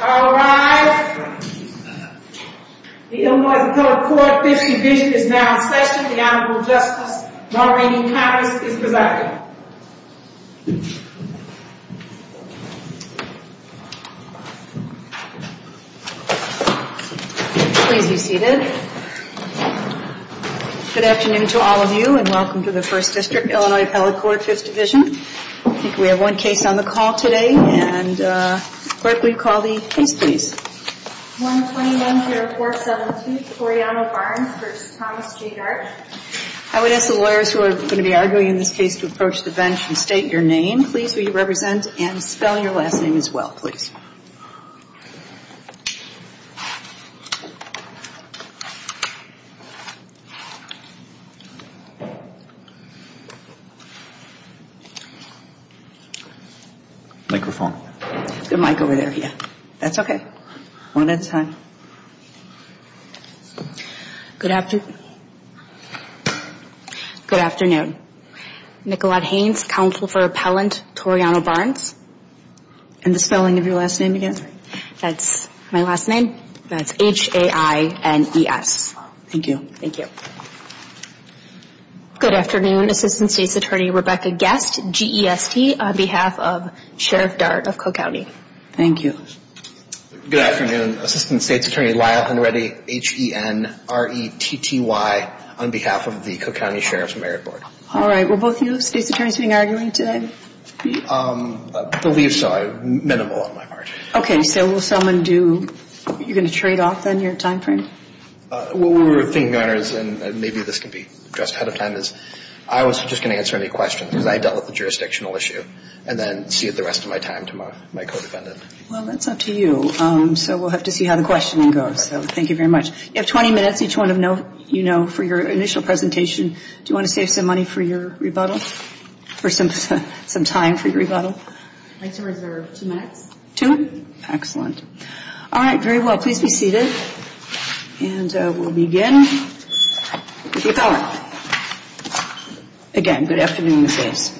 All rise. The Illinois Appellate Court Fifth Division is now in session. The Honorable Justice Maureen Harris is presiding. Please be seated. Good afternoon to all of you and welcome to the First District Illinois Appellate Court Fifth Division. I think we have one case on the call today. Clerk, will you call the case, please? 129-472 Toriano Barnes v. Thomas J. Dart I would ask the lawyers who are going to be arguing in this case to approach the bench and state your name, please, who you represent, and spell your last name as well, please. Microphone. There's a mic over there, yeah. That's okay. One at a time. Good afternoon. Good afternoon. Nicolette Haynes, Counsel for Appellant Toriano Barnes. And the spelling of your last name again? That's my last name. That's H-A-I-N-E-S. Thank you. Thank you. Good afternoon. Assistant State's Attorney Rebecca Guest, G-E-S-T, on behalf of Sheriff Dart of Cook County. Thank you. Good afternoon. Assistant State's Attorney Lyle Henretty, H-E-N-R-E-T-T-Y, on behalf of the Cook County Sheriff's Merit Board. All right. Will both of you, State's Attorneys, be arguing today? I believe so. Minimal on my part. Okay. So will someone do, you're going to trade off then your time frame? What we were thinking, Your Honors, and maybe this can be addressed ahead of time, is I was just going to answer any questions because I dealt with the jurisdictional issue and then see the rest of my time to my co-defendant. Well, that's up to you. So we'll have to see how the questioning goes. So thank you very much. You have 20 minutes, each one of you know, for your initial presentation. Do you want to save some money for your rebuttal, for some time for your rebuttal? I'd like to reserve two minutes. Two? Excellent. All right. Very well. Please be seated. And we'll begin with the appellant. Again, good afternoon, Ms. Hayes.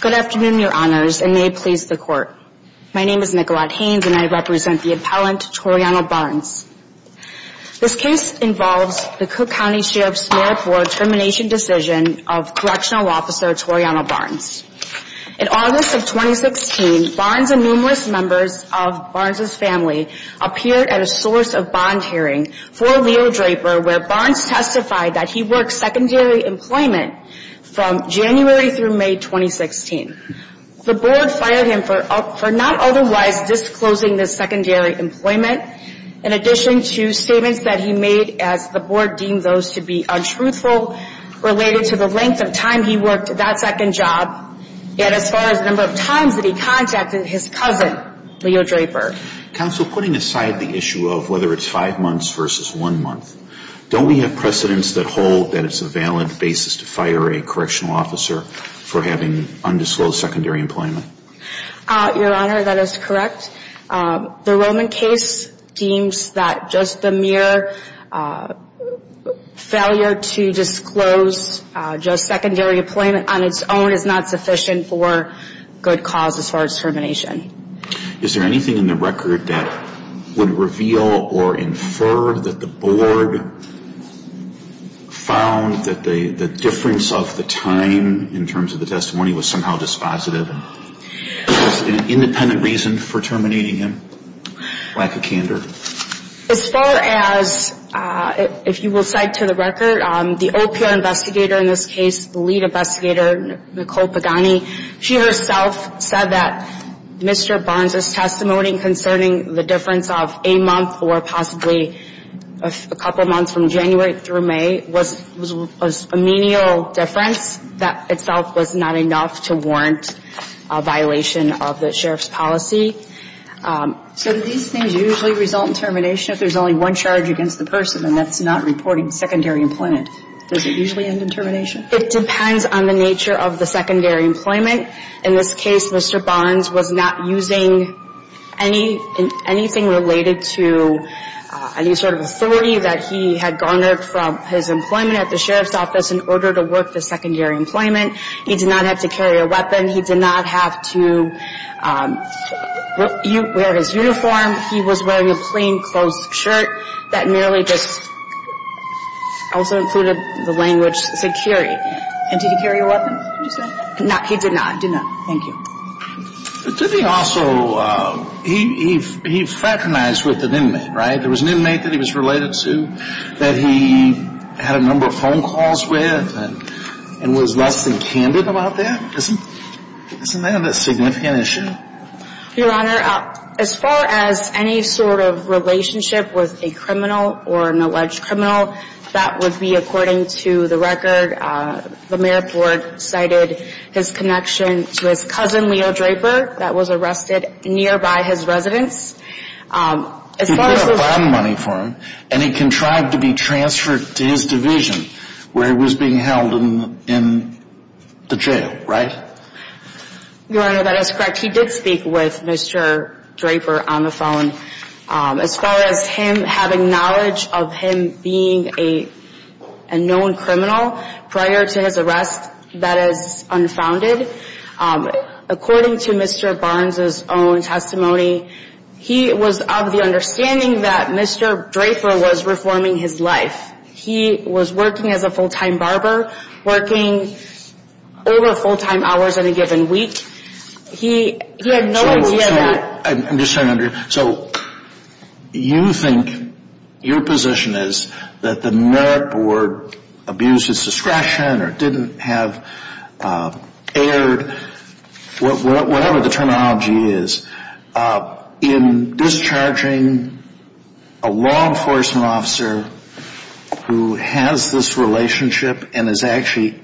Good afternoon, Your Honors, and may it please the Court. My name is Nicolette Haynes, and I represent the appellant, Toriano Barnes. This case involves the Cook County Sheriff's Board termination decision of Correctional Officer Toriano Barnes. In August of 2016, Barnes and numerous members of Barnes' family appeared at a source of bond hearing for Leo Draper where Barnes testified that he worked secondary employment from January through May 2016. The Board fired him for not otherwise disclosing his secondary employment in addition to statements that he made as the Board deemed those to be untruthful related to the length of time he worked that second job and as far as the number of times that he contacted his cousin, Leo Draper. Counsel, putting aside the issue of whether it's five months versus one month, don't we have precedents that hold that it's a valid basis to fire a Correctional Officer for having undisclosed secondary employment? Your Honor, that is correct. The Roman case deems that just the mere failure to disclose just secondary employment on its own is not sufficient for good causes for its termination. Is there anything in the record that would reveal or infer that the Board found that the difference of the time in terms of the testimony was somehow dispositive? Was there an independent reason for terminating him? Lack of candor? As far as, if you will cite to the record, the OPR investigator in this case, the lead investigator, Nicole Pagani, she herself said that Mr. Barnes' testimony concerning the difference of a month or possibly a couple months from January through May was a menial difference. That itself was not enough to warrant a violation of the Sheriff's policy. So do these things usually result in termination if there's only one charge against the person and that's not reporting secondary employment? Does it usually end in termination? It depends on the nature of the secondary employment. In this case, Mr. Barnes was not using anything related to any sort of authority that he had garnered from his employment at the Sheriff's office in order to work the secondary employment. He did not have to carry a weapon. He did not have to wear his uniform. He was wearing a plain clothes shirt that merely just also included the language security. And did he carry a weapon? No, he did not. Did not. Thank you. Did he also, he fraternized with an inmate, right? There was an inmate that he was related to that he had a number of phone calls with and was less than candid about that. Isn't that a significant issue? Your Honor, as far as any sort of relationship with a criminal or an alleged criminal, that would be according to the record. The mayor board cited his connection to his cousin, Leo Draper, that was arrested nearby his residence. He did have bond money for him and he contrived to be transferred to his division where he was being held in the jail, right? Your Honor, that is correct. He did speak with Mr. Draper on the phone. As far as him having knowledge of him being a known criminal prior to his arrest that is unfounded, according to Mr. Barnes' own testimony, he was of the understanding that Mr. Draper was reforming his life. He was working as a full-time barber, working over full-time hours in a given week. He had no idea that... I'm just trying to understand. So you think your position is that the mayor board abused its discretion or didn't have aired, whatever the terminology is, in discharging a law enforcement officer who has this relationship and is actually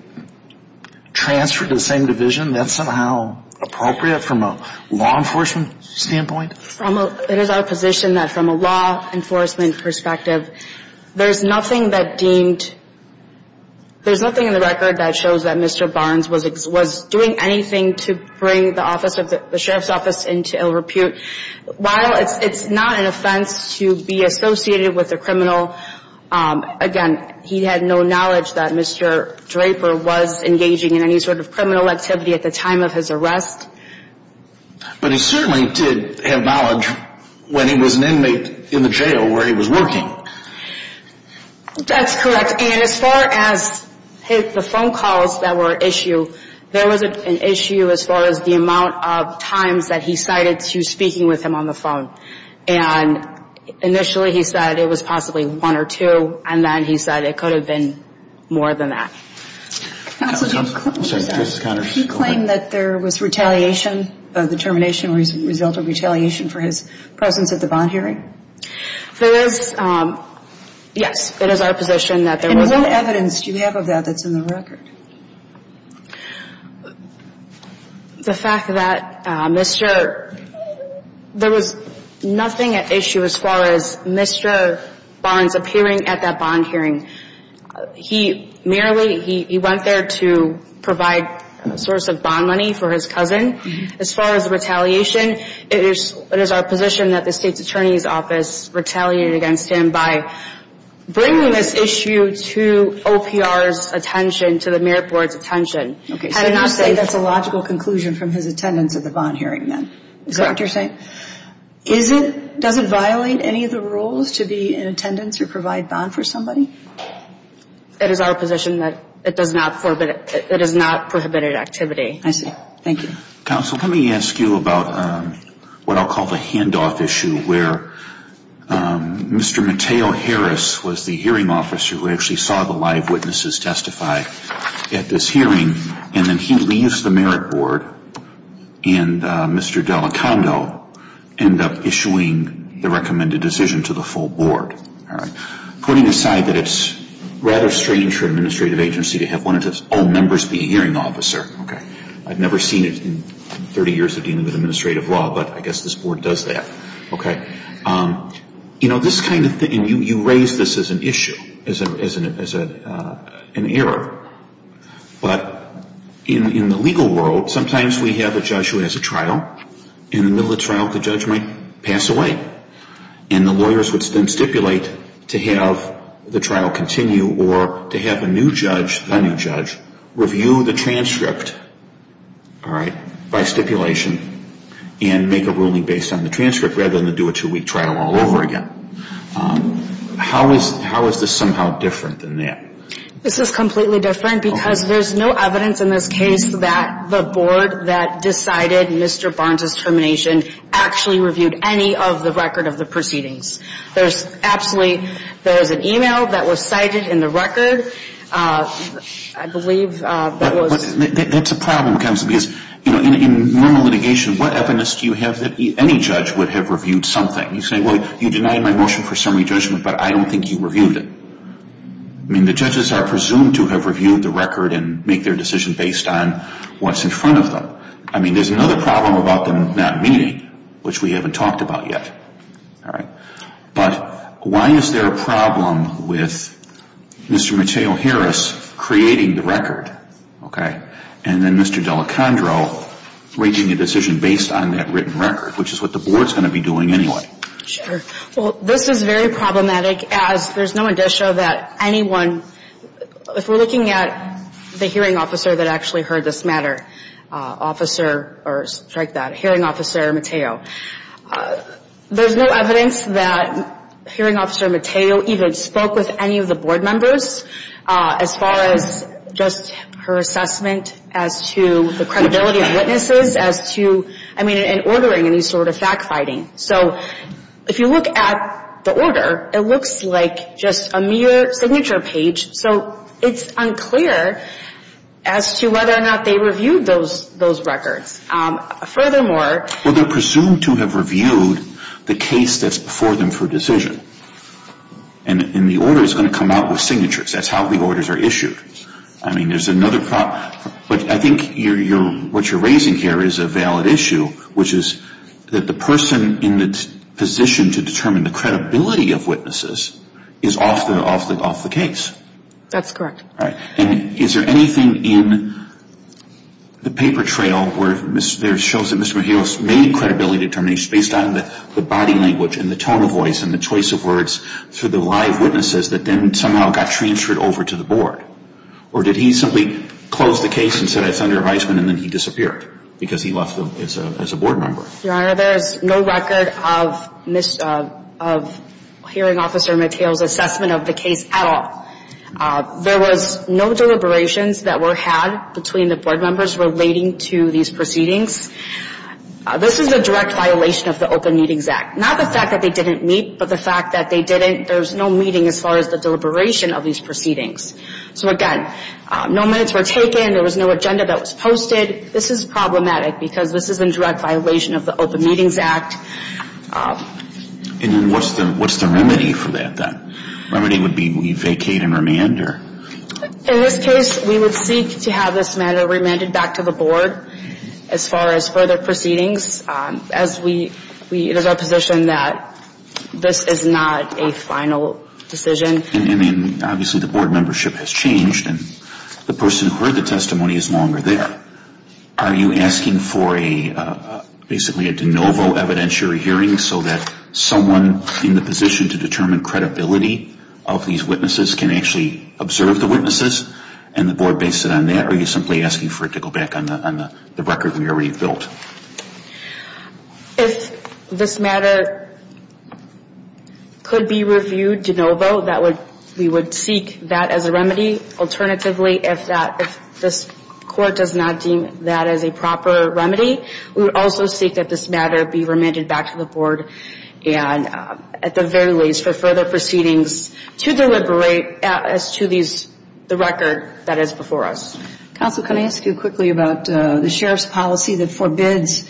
transferred to the same division? That's somehow appropriate from a law enforcement standpoint? It is our position that from a law enforcement perspective, there's nothing that deemed... There's nothing in the record that shows that Mr. Barnes was doing anything to bring the sheriff's office into ill repute. While it's not an offense to be associated with a criminal, again, he had no knowledge that Mr. Draper was engaging in any sort of criminal activity at the time of his arrest. But he certainly did have knowledge when he was an inmate in the jail where he was working. That's correct. And as far as the phone calls that were an issue, there was an issue as far as the amount of times that he cited to speaking with him on the phone. And initially he said it was possibly one or two, and then he said it could have been more than that. Counsel, do you have a question? I'm sorry. Go ahead. Did he claim that there was retaliation, the termination result of retaliation for his presence at the bond hearing? There is, yes. It is our position that there was... And what evidence do you have of that that's in the record? The fact that Mr. There was nothing at issue as far as Mr. Barnes appearing at that bond hearing. He merely, he went there to provide a source of bond money for his cousin. As far as the retaliation, it is our position that the State's Attorney's Office retaliated against him by bringing this issue to OPR's attention, to the merit board's attention. Okay, so you're saying that's a logical conclusion from his attendance at the bond hearing then? Is that what you're saying? Does it violate any of the rules to be in attendance or provide bond for somebody? It is our position that it does not prohibit activity. I see. Thank you. Counsel, let me ask you about what I'll call the handoff issue, where Mr. Mateo Harris was the hearing officer who actually saw the live witnesses testify at this hearing, and then he leaves the merit board, and Mr. Delacando ended up issuing the recommended decision to the full board. All right. Putting aside that it's rather strange for an administrative agency to have one of its own members be a hearing officer, I've never seen it in 30 years of dealing with administrative law, but I guess this board does that. Okay. You know, this kind of thing, and you raise this as an issue, as an error, but in the legal world, sometimes we have a judge who has a trial. In the middle of the trial, the judge might pass away, and the lawyers would then stipulate to have the trial continue or to have a new judge, the new judge, review the transcript, all right, by stipulation and make a ruling based on the transcript rather than do a two-week trial all over again. How is this somehow different than that? This is completely different because there's no evidence in this case that the board that decided Mr. Barnes's termination actually reviewed any of the record of the proceedings. There's absolutely an e-mail that was cited in the record, I believe. That's a problem, because in normal litigation, what evidence do you have that any judge would have reviewed something? You say, well, you denied my motion for summary judgment, but I don't think you reviewed it. I mean, the judges are presumed to have reviewed the record and make their decision based on what's in front of them. I mean, there's another problem about them not meeting, which we haven't talked about yet, all right. But why is there a problem with Mr. Mateo Harris creating the record, okay, and then Mr. Delacandro making a decision based on that written record, which is what the board's going to be doing anyway? Sure. Well, this is very problematic, as there's no indicia that anyone, if we're looking at the hearing officer that actually heard this matter, officer, or strike that, hearing officer Mateo, there's no evidence that hearing officer Mateo even spoke with any of the board members as far as just her assessment as to the credibility of witnesses as to, I mean, in ordering any sort of fact-finding. So if you look at the order, it looks like just a mere signature page, so it's unclear as to whether or not they reviewed those records. Furthermore, Well, they're presumed to have reviewed the case that's before them for decision, and the order's going to come out with signatures. That's how the orders are issued. I mean, there's another problem. But I think what you're raising here is a valid issue, which is that the person in the position to determine the credibility of witnesses is off the case. That's correct. All right. And is there anything in the paper trail where there shows that Mr. Mateo's made credibility determination based on the body language and the tone of voice and the choice of words through the live witnesses that then somehow got transferred over to the board? Or did he simply close the case and said, I found your advisement, and then he disappeared because he left as a board member? Your Honor, there's no record of hearing officer Mateo's assessment of the case at all. There was no deliberations that were had between the board members relating to these proceedings. This is a direct violation of the Open Meetings Act. Not the fact that they didn't meet, but the fact that they didn't. There was no meeting as far as the deliberation of these proceedings. So, again, no minutes were taken. There was no agenda that was posted. This is problematic because this is in direct violation of the Open Meetings Act. And what's the remedy for that, then? The remedy would be vacate and remand? In this case, we would seek to have this matter remanded back to the board as far as further proceedings. It is our position that this is not a final decision. And obviously the board membership has changed, and the person who heard the testimony is longer there. Are you asking for basically a de novo evidentiary hearing so that someone in the position to determine credibility of these witnesses can actually observe the witnesses? And the board based it on that? Or are you simply asking for it to go back on the record we already built? If this matter could be reviewed de novo, we would seek that as a remedy. Alternatively, if this court does not deem that as a proper remedy, we would also seek that this matter be remanded back to the board at the very least for further proceedings to deliberate as to the record that is before us. Counsel, can I ask you quickly about the sheriff's policy that forbids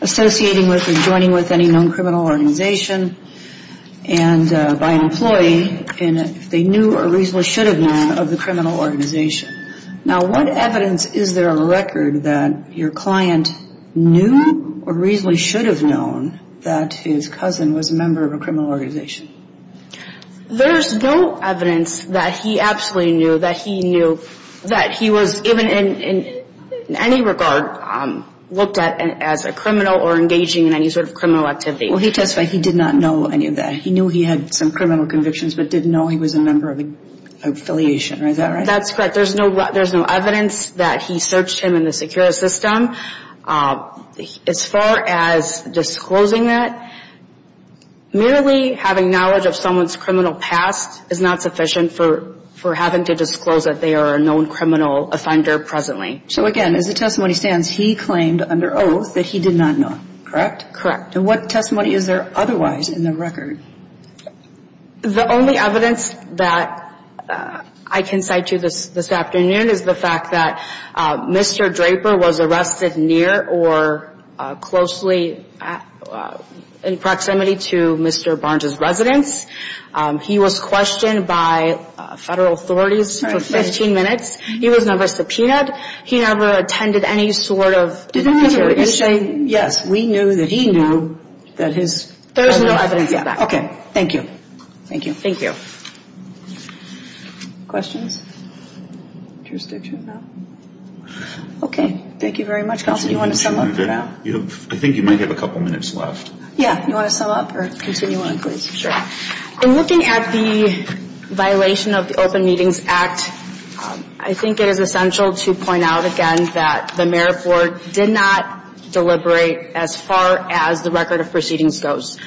associating with or joining with any known criminal organization and by an employee if they knew or reasonably should have known of the criminal organization. Now what evidence is there on record that your client knew or reasonably should have known that his cousin was a member of a criminal organization? There's no evidence that he absolutely knew, that he knew that he was even in any regard looked at as a criminal or engaging in any sort of criminal activity. Well, he testified he did not know any of that. He knew he had some criminal convictions but didn't know he was a member of an affiliation. Is that right? That's correct. There's no evidence that he searched him in the secure system. As far as disclosing that, merely having knowledge of someone's criminal past is not sufficient for having to disclose that they are a known criminal offender presently. So again, as the testimony stands, he claimed under oath that he did not know, correct? Correct. And what testimony is there otherwise in the record? The only evidence that I can cite to you this afternoon is the fact that Mr. Draper was arrested near or closely in proximity to Mr. Barnes' residence. He was questioned by federal authorities for 15 minutes. He was never subpoenaed. He never attended any sort of interrogation. Did the judge say, Yes, we knew that he knew that his... There is no evidence of that. Okay, thank you. Thank you. Thank you. Questions? Interested? Okay, thank you very much. Counsel, do you want to sum up for now? I think you might have a couple minutes left. Yeah, do you want to sum up or continue on, please? Sure. In looking at the violation of the Open Meetings Act, I think it is essential to point out again that the Merit Board did not deliberate as far as the record of proceedings goes.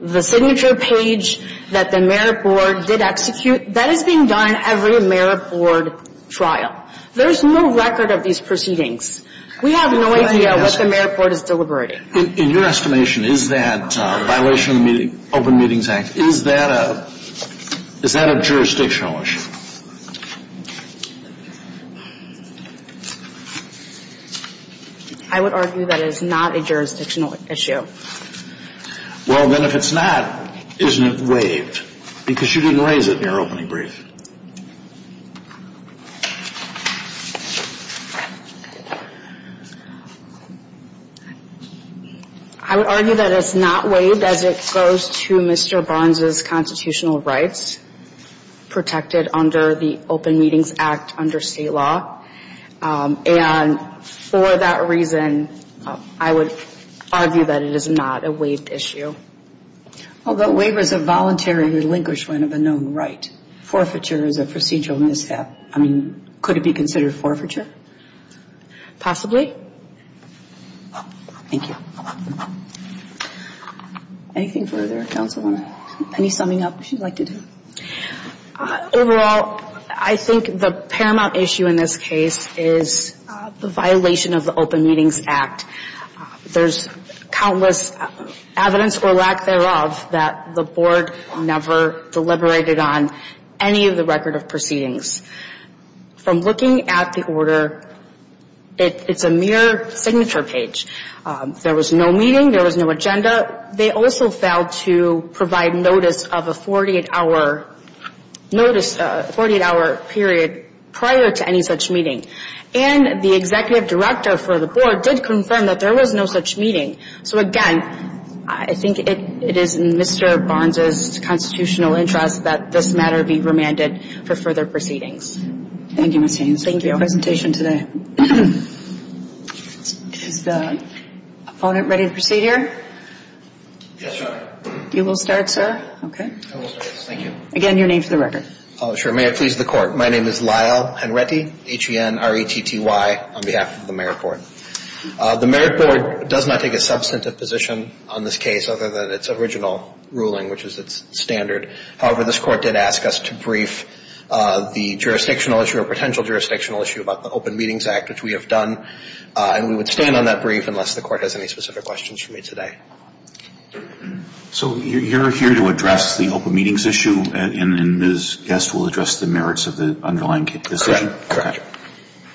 The signature page that the Merit Board did execute, that is being done in every Merit Board trial. There is no record of these proceedings. We have no idea what the Merit Board is deliberating. In your estimation, is that violation of the Open Meetings Act, is that a jurisdictional issue? I would argue that it is not a jurisdictional issue. Well, then if it's not, isn't it waived? Because you didn't raise it in your opening brief. I would argue that it's not waived as it goes to Mr. Barnes' constitutional rights protected under the Open Meetings Act under state law. And for that reason, I would argue that it is not a waived issue. Well, the waiver is a voluntary relinquishment of a known right. Forfeiture is a procedural mishap. I mean, could it be considered forfeiture? Possibly. Thank you. Anything further? Counsel, any summing up you'd like to do? Overall, I think the paramount issue in this case is the violation of the Open Meetings Act. There's countless evidence or lack thereof that the Board never deliberated on any of the record of proceedings. From looking at the order, it's a mere signature page. There was no meeting. There was no agenda. They also failed to provide notice of a 48-hour period prior to any such meeting. And the executive director for the Board did confirm that there was no such meeting. So again, I think it is in Mr. Barnes' constitutional interest that this matter be remanded for further proceedings. Thank you, Ms. Haynes. Thank you. I appreciate your presentation today. Is the opponent ready to proceed here? Yes, Your Honor. You will start, sir? Okay. I will start, yes, thank you. Again, your name for the record. May it please the Court. My name is Lyle Henretty, H-E-N-R-E-T-T-Y, on behalf of the Merit Board. The Merit Board does not take a substantive position on this case other than its original ruling, which is its standard. However, this Court did ask us to brief the jurisdictional issue or potential jurisdictional issue about the Open Meetings Act, which we have done, and we would stand on that brief unless the Court has any specific questions for me today. So you're here to address the Open Meetings issue, and this guest will address the merits of the underlying decision? Correct.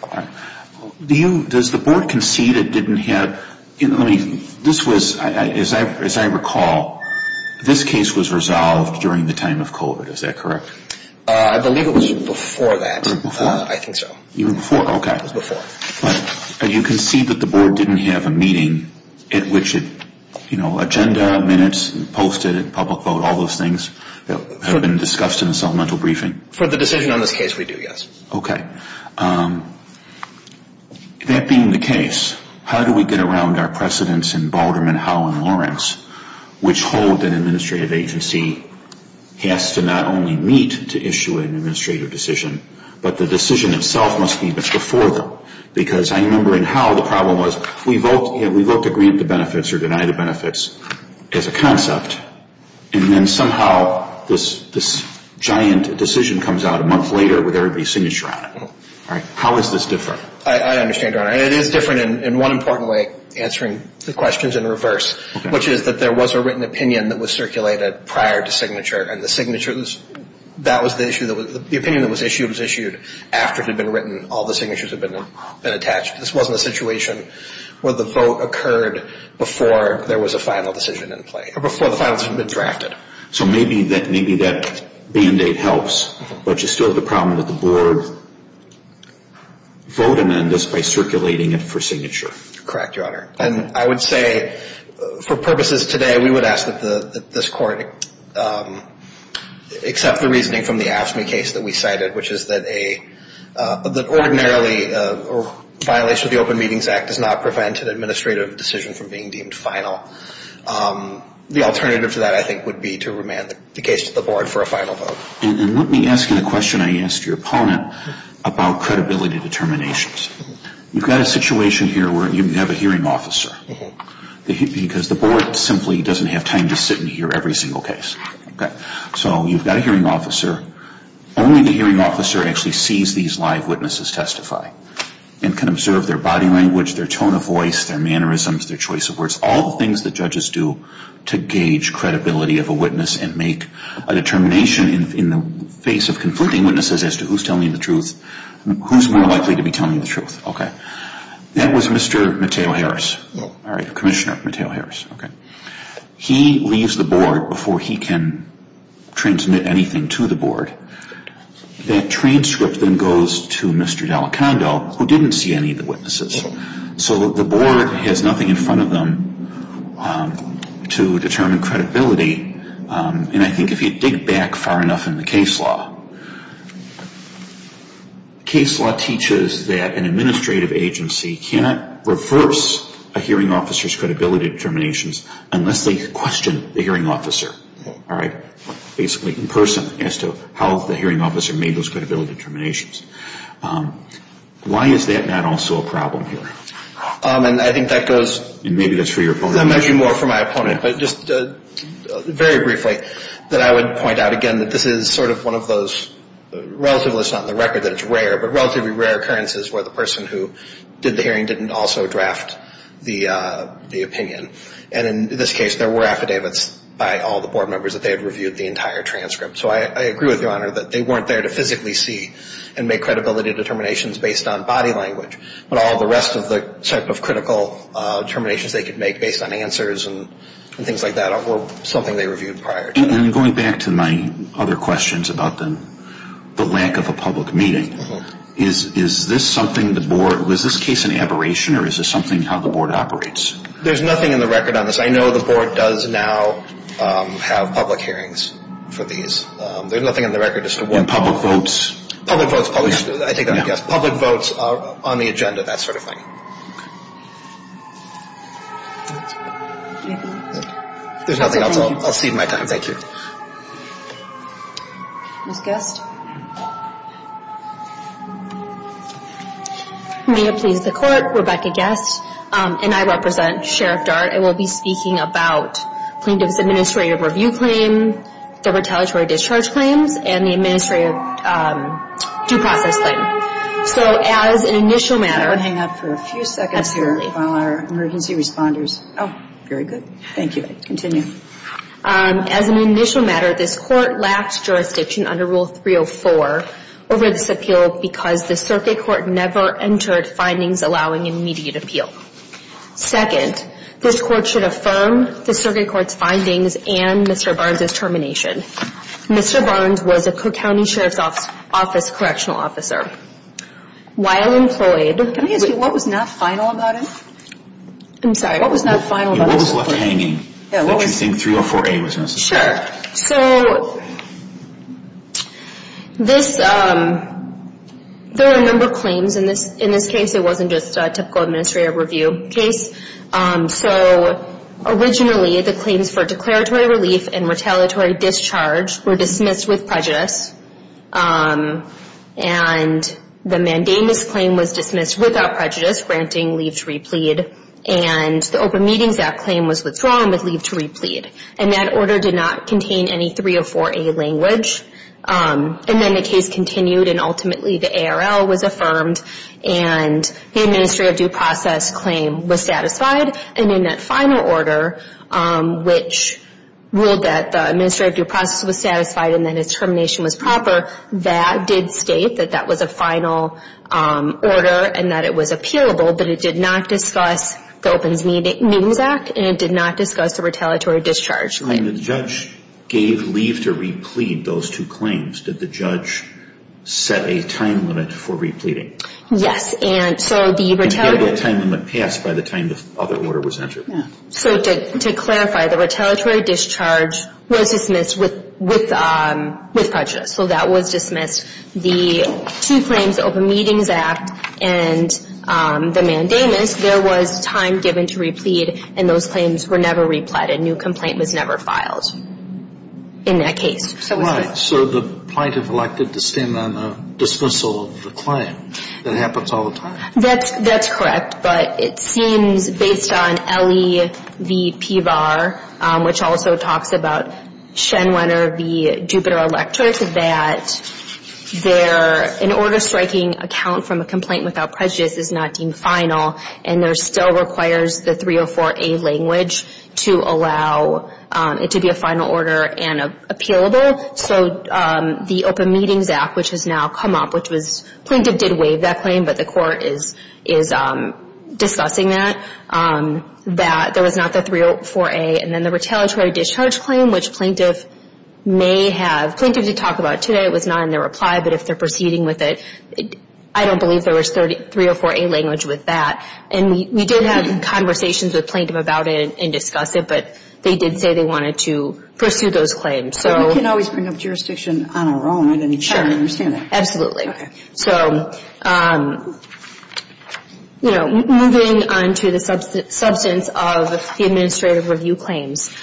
All right. Does the Board concede it didn't have – this was, as I recall, this case was resolved during the time of COVID. Is that correct? I believe it was before that. Even before? I think so. Even before, okay. It was before. But you concede that the Board didn't have a meeting at which it – you know, agenda, minutes, posted, public vote, all those things that have been discussed in the supplemental briefing? For the decision on this case, we do, yes. Okay. That being the case, how do we get around our precedents in Balderman, Howe, and Lawrence, which hold that an administrative agency has to not only meet to issue an administrative decision, but the decision itself must be before them? Because I remember in Howe, the problem was we vote to grant the benefits or deny the benefits as a concept, and then somehow this giant decision comes out a month later with everybody's signature on it. How is this different? I understand, Your Honor. It is different in one important way, answering the questions in reverse, which is that there was a written opinion that was circulated prior to signature, and the opinion that was issued was issued after it had been written. All the signatures had been attached. This wasn't a situation where the vote occurred before there was a final decision in play or before the finals had been drafted. So maybe that band-aid helps, but you still have the problem that the Board voted on this by circulating it for signature. Correct, Your Honor. And I would say for purposes today, we would ask that this Court accept the reasoning from the AFSCME case that we cited, which is that ordinarily a violation of the Open Meetings Act does not prevent an administrative decision from being deemed final. The alternative to that, I think, would be to remand the case to the Board for a final vote. And let me ask you the question I asked your opponent about credibility determinations. You've got a situation here where you have a hearing officer because the Board simply doesn't have time to sit and hear every single case. So you've got a hearing officer. Only the hearing officer actually sees these live witnesses testify and can observe their body language, their tone of voice, their mannerisms, their choice of words, all the things that judges do to gauge credibility of a witness and make a determination in the face of conflicting witnesses as to who's telling the truth, who's more likely to be telling the truth. Okay. That was Mr. Mateo Harris. All right, Commissioner Mateo Harris. Okay. He leaves the Board before he can transmit anything to the Board. That transcript then goes to Mr. Delacando, who didn't see any of the witnesses. So the Board has nothing in front of them to determine credibility. And I think if you dig back far enough in the case law, case law teaches that an administrative agency cannot reverse a hearing officer's credibility determinations unless they question the hearing officer, all right, basically in person as to how the hearing officer made those credibility determinations. Why is that not also a problem here? And I think that goes to the measure more for my opponent. Just very briefly, that I would point out again that this is sort of one of those relatively, not on the record that it's rare, but relatively rare occurrences where the person who did the hearing didn't also draft the opinion. And in this case, there were affidavits by all the Board members that they had reviewed the entire transcript. So I agree with Your Honor that they weren't there to physically see and make credibility determinations based on body language, but all the rest of the type of critical determinations they could make based on answers and things like that were something they reviewed prior to that. And going back to my other questions about the lack of a public meeting, is this something the Board, was this case an aberration or is this something how the Board operates? There's nothing in the record on this. I know the Board does now have public hearings for these. There's nothing on the record as to what. And public votes? Public votes, public, I take that as a yes. Public votes are on the agenda, that sort of thing. There's nothing else. I'll cede my time. Thank you. Ms. Guest? May it please the Court, Rebecca Guest, and I represent Sheriff Dart. I will be speaking about plaintiff's administrative review claim, the retaliatory discharge claims, and the administrative due process claim. So as an initial matter. Hang on for a few seconds here while our emergency responders. Oh, very good. Thank you. Continue. As an initial matter, this Court lacked jurisdiction under Rule 304 over this appeal because the Circuit Court never entered findings allowing immediate appeal. Second, this Court should affirm the Circuit Court's findings and Mr. Barnes' termination. Mr. Barnes was a Cook County Sheriff's Office correctional officer. While employed. Can I ask you what was not final about him? I'm sorry. What was not final about him? Sure. So there are a number of claims in this case. It wasn't just a typical administrative review case. So originally the claims for declaratory relief and retaliatory discharge were dismissed with prejudice. And the mandamus claim was dismissed without prejudice, granting leave to replead. And the Open Meetings Act claim was withdrawn with leave to replead. And that order did not contain any 304A language. And then the case continued and ultimately the ARL was affirmed and the administrative due process claim was satisfied. And in that final order, which ruled that the administrative due process was satisfied and that his termination was proper, that did state that that was a final order and that it was appealable, but it did not discuss the Open Meetings Act and it did not discuss the retaliatory discharge claim. And the judge gave leave to replead those two claims. Did the judge set a time limit for repleading? Yes. And so the retaliatory... And did that time limit pass by the time the other order was entered? No. So to clarify, the retaliatory discharge was dismissed with prejudice. So that was dismissed. The two claims, the Open Meetings Act and the mandamus, there was time given to replead and those claims were never repleaded. A new complaint was never filed in that case. Right. So the plaintiff elected to stand on a dismissal of the claim. That happens all the time. That's correct. But it seems, based on LEVP-VAR, which also talks about Schenwender v. Jupiter Electra, that an order striking a count from a complaint without prejudice is not deemed final. And there still requires the 304A language to allow it to be a final order and appealable. So the Open Meetings Act, which has now come up, which was... Plaintiff did waive that claim, but the court is discussing that, that there was not the 304A. And then the retaliatory discharge claim, which plaintiff may have... Plaintiff did talk about it today. It was not in their reply, but if they're proceeding with it, I don't believe there was 304A language with that. And we did have conversations with plaintiff about it and discuss it, but they did say they wanted to pursue those claims. But we can always bring up jurisdiction on our own. I'm not even sure I understand that. Absolutely. Okay. So, you know, moving on to the substance of the administrative review claims.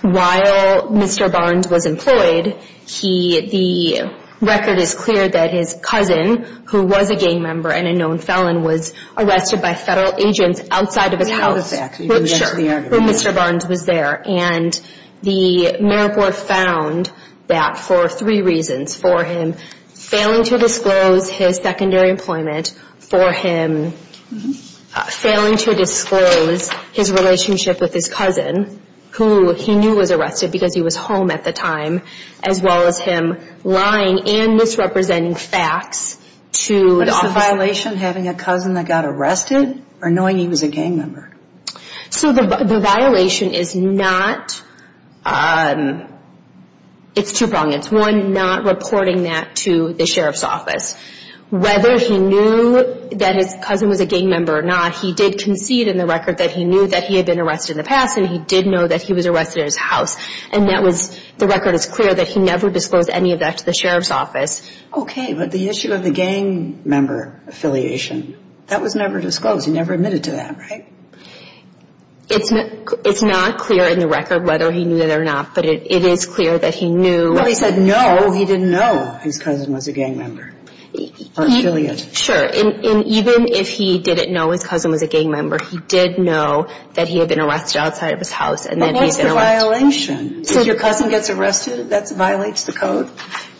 While Mr. Barnes was employed, he... The record is clear that his cousin, who was a gang member and a known felon, was arrested by federal agents outside of his house. We have a fact. Sure. When Mr. Barnes was there. And the merit board found that for three reasons. For him failing to disclose his secondary employment. For him failing to disclose his relationship with his cousin, who he knew was arrested because he was home at the time. As well as him lying and misrepresenting facts to the office. But is the violation having a cousin that got arrested? Or knowing he was a gang member? So the violation is not... It's two pronged. It's one, not reporting that to the sheriff's office. Whether he knew that his cousin was a gang member or not, he did concede in the record that he knew that he had been arrested in the past and he did know that he was arrested at his house. And that was... The record is clear that he never disclosed any of that to the sheriff's office. Okay. But the issue of the gang member affiliation, that was never disclosed. He never admitted to that, right? It's not clear in the record whether he knew that or not. But it is clear that he knew... Well, he said no, he didn't know his cousin was a gang member. Affiliate. Sure. And even if he didn't know his cousin was a gang member, he did know that he had been arrested outside of his house. But what's the violation? If your cousin gets arrested, that violates the code?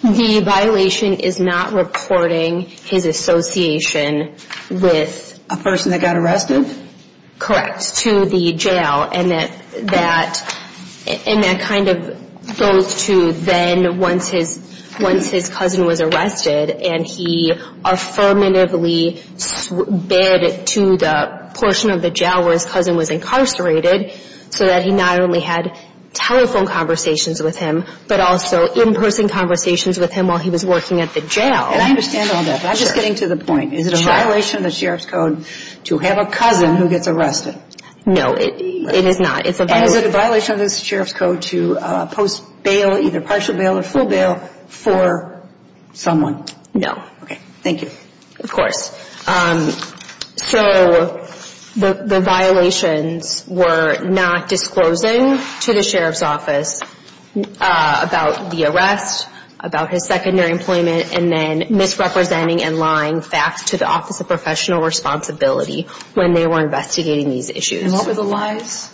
The violation is not reporting his association with... A person that got arrested? Correct. To the jail. And that kind of goes to then once his cousin was arrested and he affirmatively bid to the portion of the jail where his cousin was incarcerated so that he not only had telephone conversations with him, but also in-person conversations with him while he was working at the jail. And I understand all that, but I'm just getting to the point. Is it a violation of the sheriff's code to have a cousin who gets arrested? No, it is not. And is it a violation of the sheriff's code to post bail, either partial bail or full bail for someone? No. Okay, thank you. Of course. So the violations were not disclosing to the sheriff's office about the arrest, about his secondary employment, and then misrepresenting and lying facts to the Office of Professional Responsibility when they were investigating these issues. And what were the lies?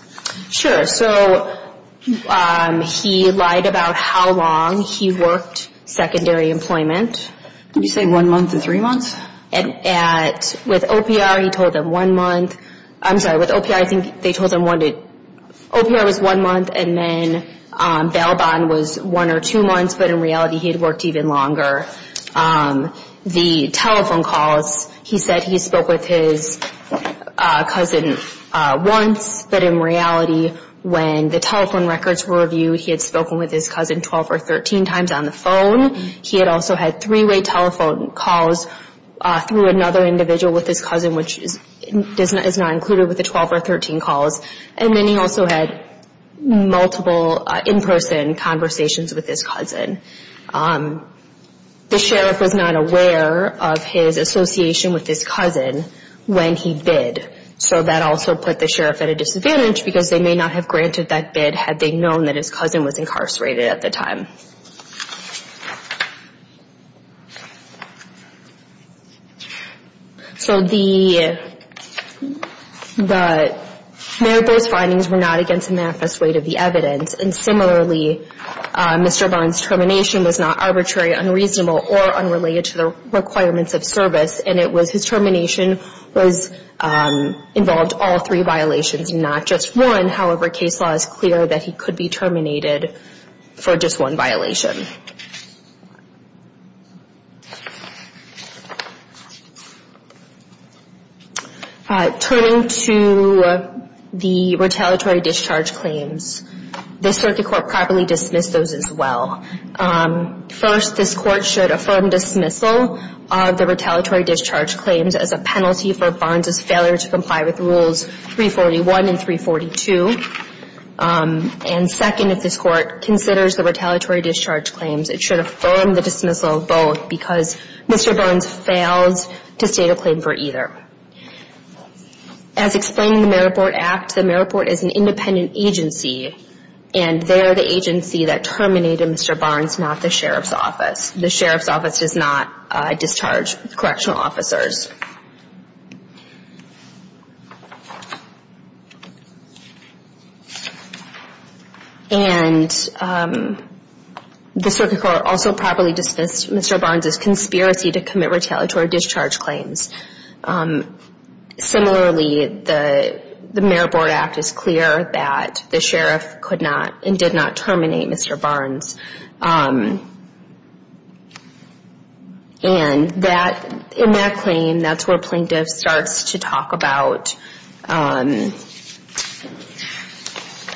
Sure. So he lied about how long he worked secondary employment. Did he say one month and three months? With OPR, he told them one month. I'm sorry, with OPR, I think they told them one to... OPR was one month and then bail bond was one or two months, but in reality he had worked even longer. The telephone calls, he said he spoke with his cousin once, but in reality when the telephone records were reviewed, he had spoken with his cousin 12 or 13 times on the phone. He had also had three-way telephone calls through another individual with his cousin, which is not included with the 12 or 13 calls. And then he also had multiple in-person conversations with his cousin. The sheriff was not aware of his association with his cousin when he bid, so that also put the sheriff at a disadvantage because they may not have granted that bid had they known that his cousin was incarcerated at the time. So the merit-based findings were not against the manifest weight of the evidence, and similarly, Mr. Barnes' termination was not arbitrary, unreasonable, or unrelated to the requirements of service, and his termination involved all three violations, not just one. However, case law is clear that he could be terminated for just one violation. Turning to the retaliatory discharge claims, the Circuit Court properly dismissed those as well. First, this Court should affirm dismissal of the retaliatory discharge claims as a penalty for Barnes' failure to comply with Rules 341 and 342. And second, if this Court considers the retaliatory discharge claims it should affirm the dismissal of both because Mr. Barnes fails to state a claim for either. As explained in the Merit Board Act, the Merit Board is an independent agency, and they're the agency that terminated Mr. Barnes, not the sheriff's office. The sheriff's office does not discharge correctional officers. And the Circuit Court also properly dismissed Mr. Barnes' conspiracy to commit retaliatory discharge claims. Similarly, the Merit Board Act is clear that the sheriff could not and did not terminate Mr. Barnes. And that's where Plaintiff starts to talk about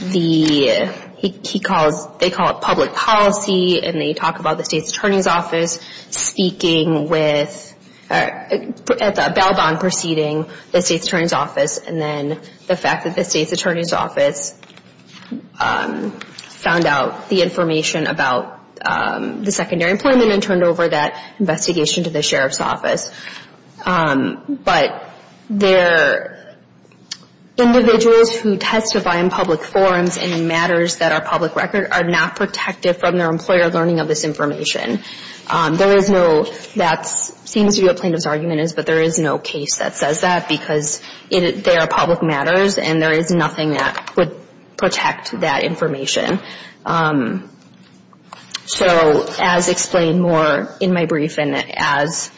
the, he calls, they call it public policy, and they talk about the state's attorney's office speaking with, at the bail bond proceeding, the state's attorney's office, and then the fact that the state's attorney's office found out the information about the secondary employment and turned over that investigation to the sheriff's office. But they're individuals who testify in public forums in matters that are public record are not protected from their employer learning of this information. There is no, that seems to be what Plaintiff's argument is, but there is no case that says that because they are public matters and there is nothing that would protect that information. So as explained more in my briefing, as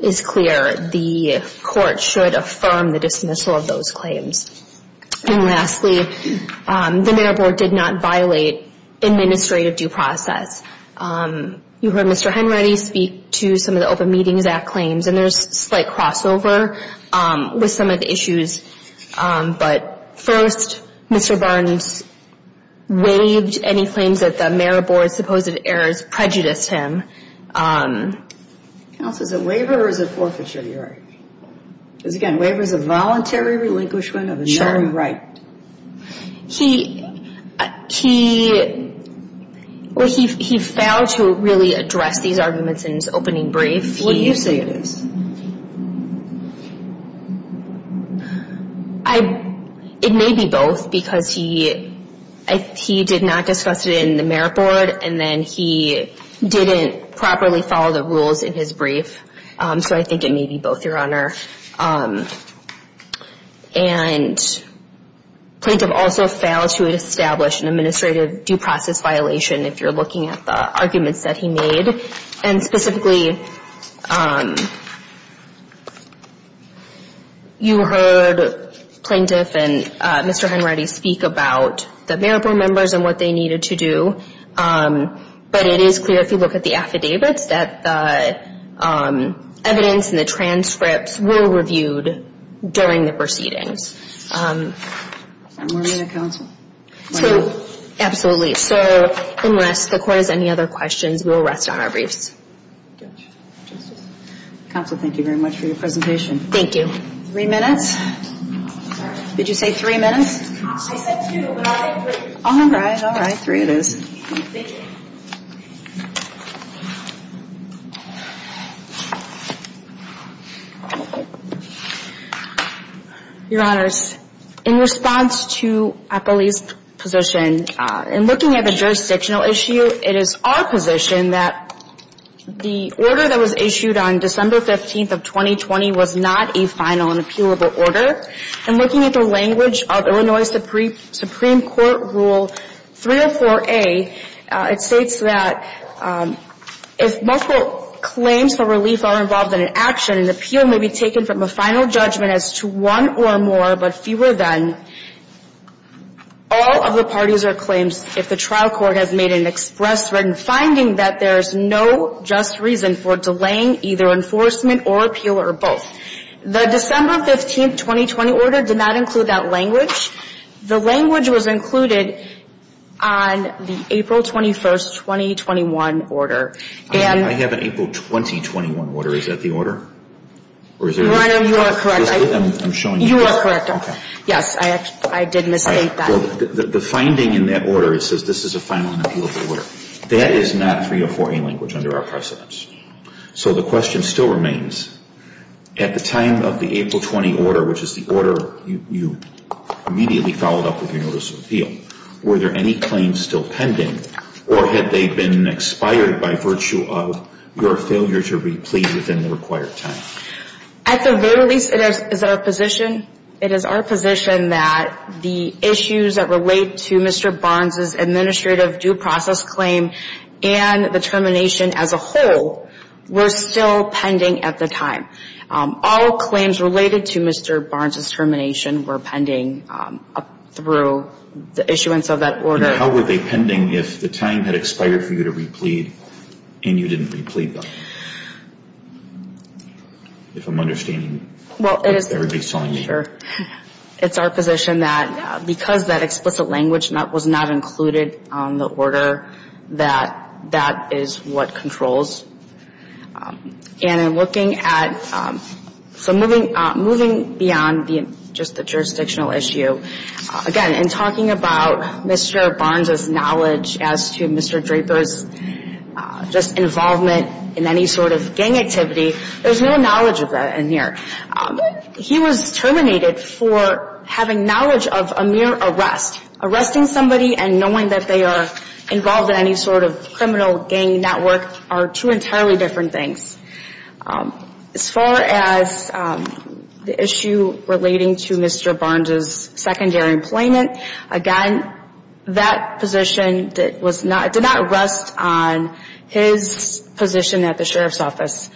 is clear, the court should affirm the dismissal of those claims. And lastly, the Merit Board did not violate administrative due process. You heard Mr. Henready speak to some of the Open Meetings Act claims, and there's a slight crossover with some of the issues. But first, Mr. Barnes waived any claims that the Merit Board's supposed errors prejudiced him. Counsel, is it waiver or is it forfeiture? Because again, waiver is a voluntary relinquishment of a known right. He, well, he failed to really address these arguments in his opening brief. What do you say it is? I, it may be both because he did not discuss it in the Merit Board and then he didn't properly follow the rules in his brief. So I think it may be both, Your Honor. And Plaintiff also failed to establish an administrative due process violation if you're looking at the arguments that he made. And specifically, you heard Plaintiff and Mr. Henready speak about the Merit Board members and what they needed to do, but it is clear if you look at the affidavits that the evidence and the transcripts were reviewed during the proceedings. So, absolutely. So, unless the Court has any other questions, we will rest on our briefs. Counsel, thank you very much for your presentation. Thank you. Three minutes? Did you say three minutes? I said two, but I'll write three. Your Honors, in response to Apolli's position, in looking at the jurisdictional issue, it is our position that the order that was issued on December 15th of 2020 was not a final and appealable order. In looking at the language of Illinois Supreme Court Rule 304A, it states that if multiple claims for relief are involved in an action, an appeal may be taken from a final judgment as to one or more, but fewer than. All of the parties are claimed if the trial court has made an express written finding that there is no just reason for delaying either enforcement or appeal or both. The December 15th, 2020 order did not include that language. The language was included on the April 21st, 2021 order. I have an April 2021 order. Is that the order? Your Honor, you are correct. Yes, I did misstate that. So the finding in that order, it says this is a final and appealable order. That is not 304A language under our precedence. So the question still remains, at the time of the April 20 order, which is the order you immediately followed up with your notice of appeal, were there any claims still pending, or had they been expired by virtue of your failure to replead within the required time? At the very least, it is our position that the issues that relate to Mr. Barnes' administrative due process claim and the termination as a whole were still pending at the time. All claims related to Mr. Barnes' termination were pending through the issuance of that order. Your Honor, how were they pending if the time had expired for you to replead and you didn't replead them? If I'm understanding what everybody is telling me. It's our position that because that explicit language was not included on the order, that that is what controls. So moving beyond just the jurisdictional issue, again, in talking about Mr. Barnes' knowledge as to Mr. Draper's just involvement in any sort of gang activity, there's no knowledge of that in here. He was terminated for having knowledge of a mere arrest. Arresting somebody and knowing that they are involved in any sort of criminal gang network are two entirely different things. As far as the issue relating to Mr. Barnes' secondary employment, again, that position did not rest on his position at the Sheriff's Office.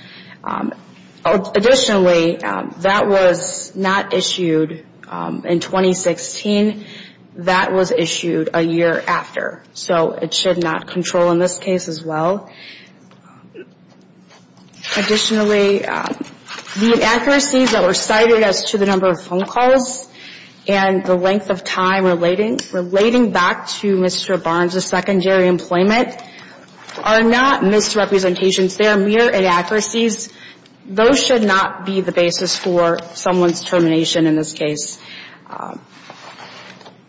Additionally, that was not issued in 2016. That was issued a year after. So it should not control in this case as well. Additionally, the inaccuracies that were cited as to the number of phone calls and the length of time relating back to Mr. Barnes' secondary employment are not misrepresentations. They are mere inaccuracies. Those should not be the basis for someone's termination in this case.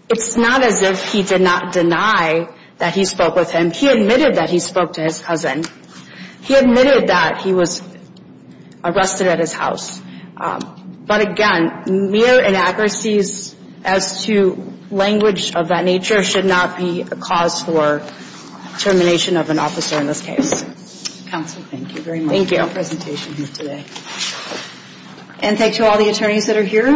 It's not as if he did not deny that he spoke with him. He admitted that he spoke to his cousin. He admitted that he was arrested at his house. But again, mere inaccuracies as to language of that nature should not be a cause for termination of an officer in this case. Counsel, thank you very much for your presentation here today. And thank you to all the attorneys that are here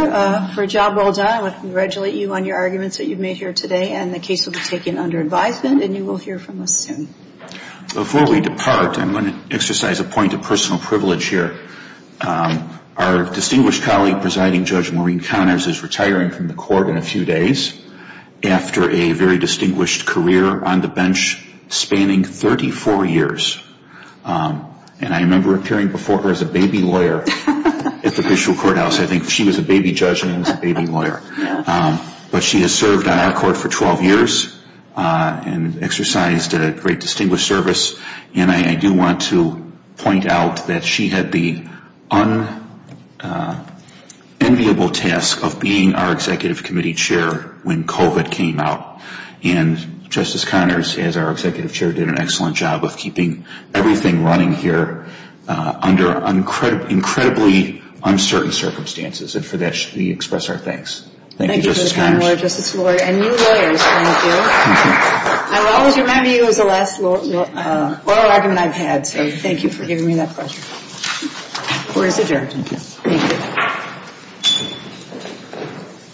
for a job well done. I want to congratulate you on your arguments that you've made here today. And the case will be taken under advisement, and you will hear from us soon. Before we depart, I'm going to exercise a point of personal privilege here. Our distinguished colleague, Presiding Judge Maureen Conners, is retiring from the court in a few days after a very distinguished career on the bench spanning 34 years. And I remember appearing before her as a baby lawyer at the Fishville Courthouse. I think she was a baby judge and a baby lawyer. But she has served on our court for 12 years and exercised a great distinguished service. And I do want to point out that she had the unenviable task of being our Executive Committee Chair when COVID came out. And Justice Conners, as our Executive Chair, did an excellent job of keeping everything running here under incredibly uncertain circumstances. And for that, we express our thanks. Thank you, Justice Conners.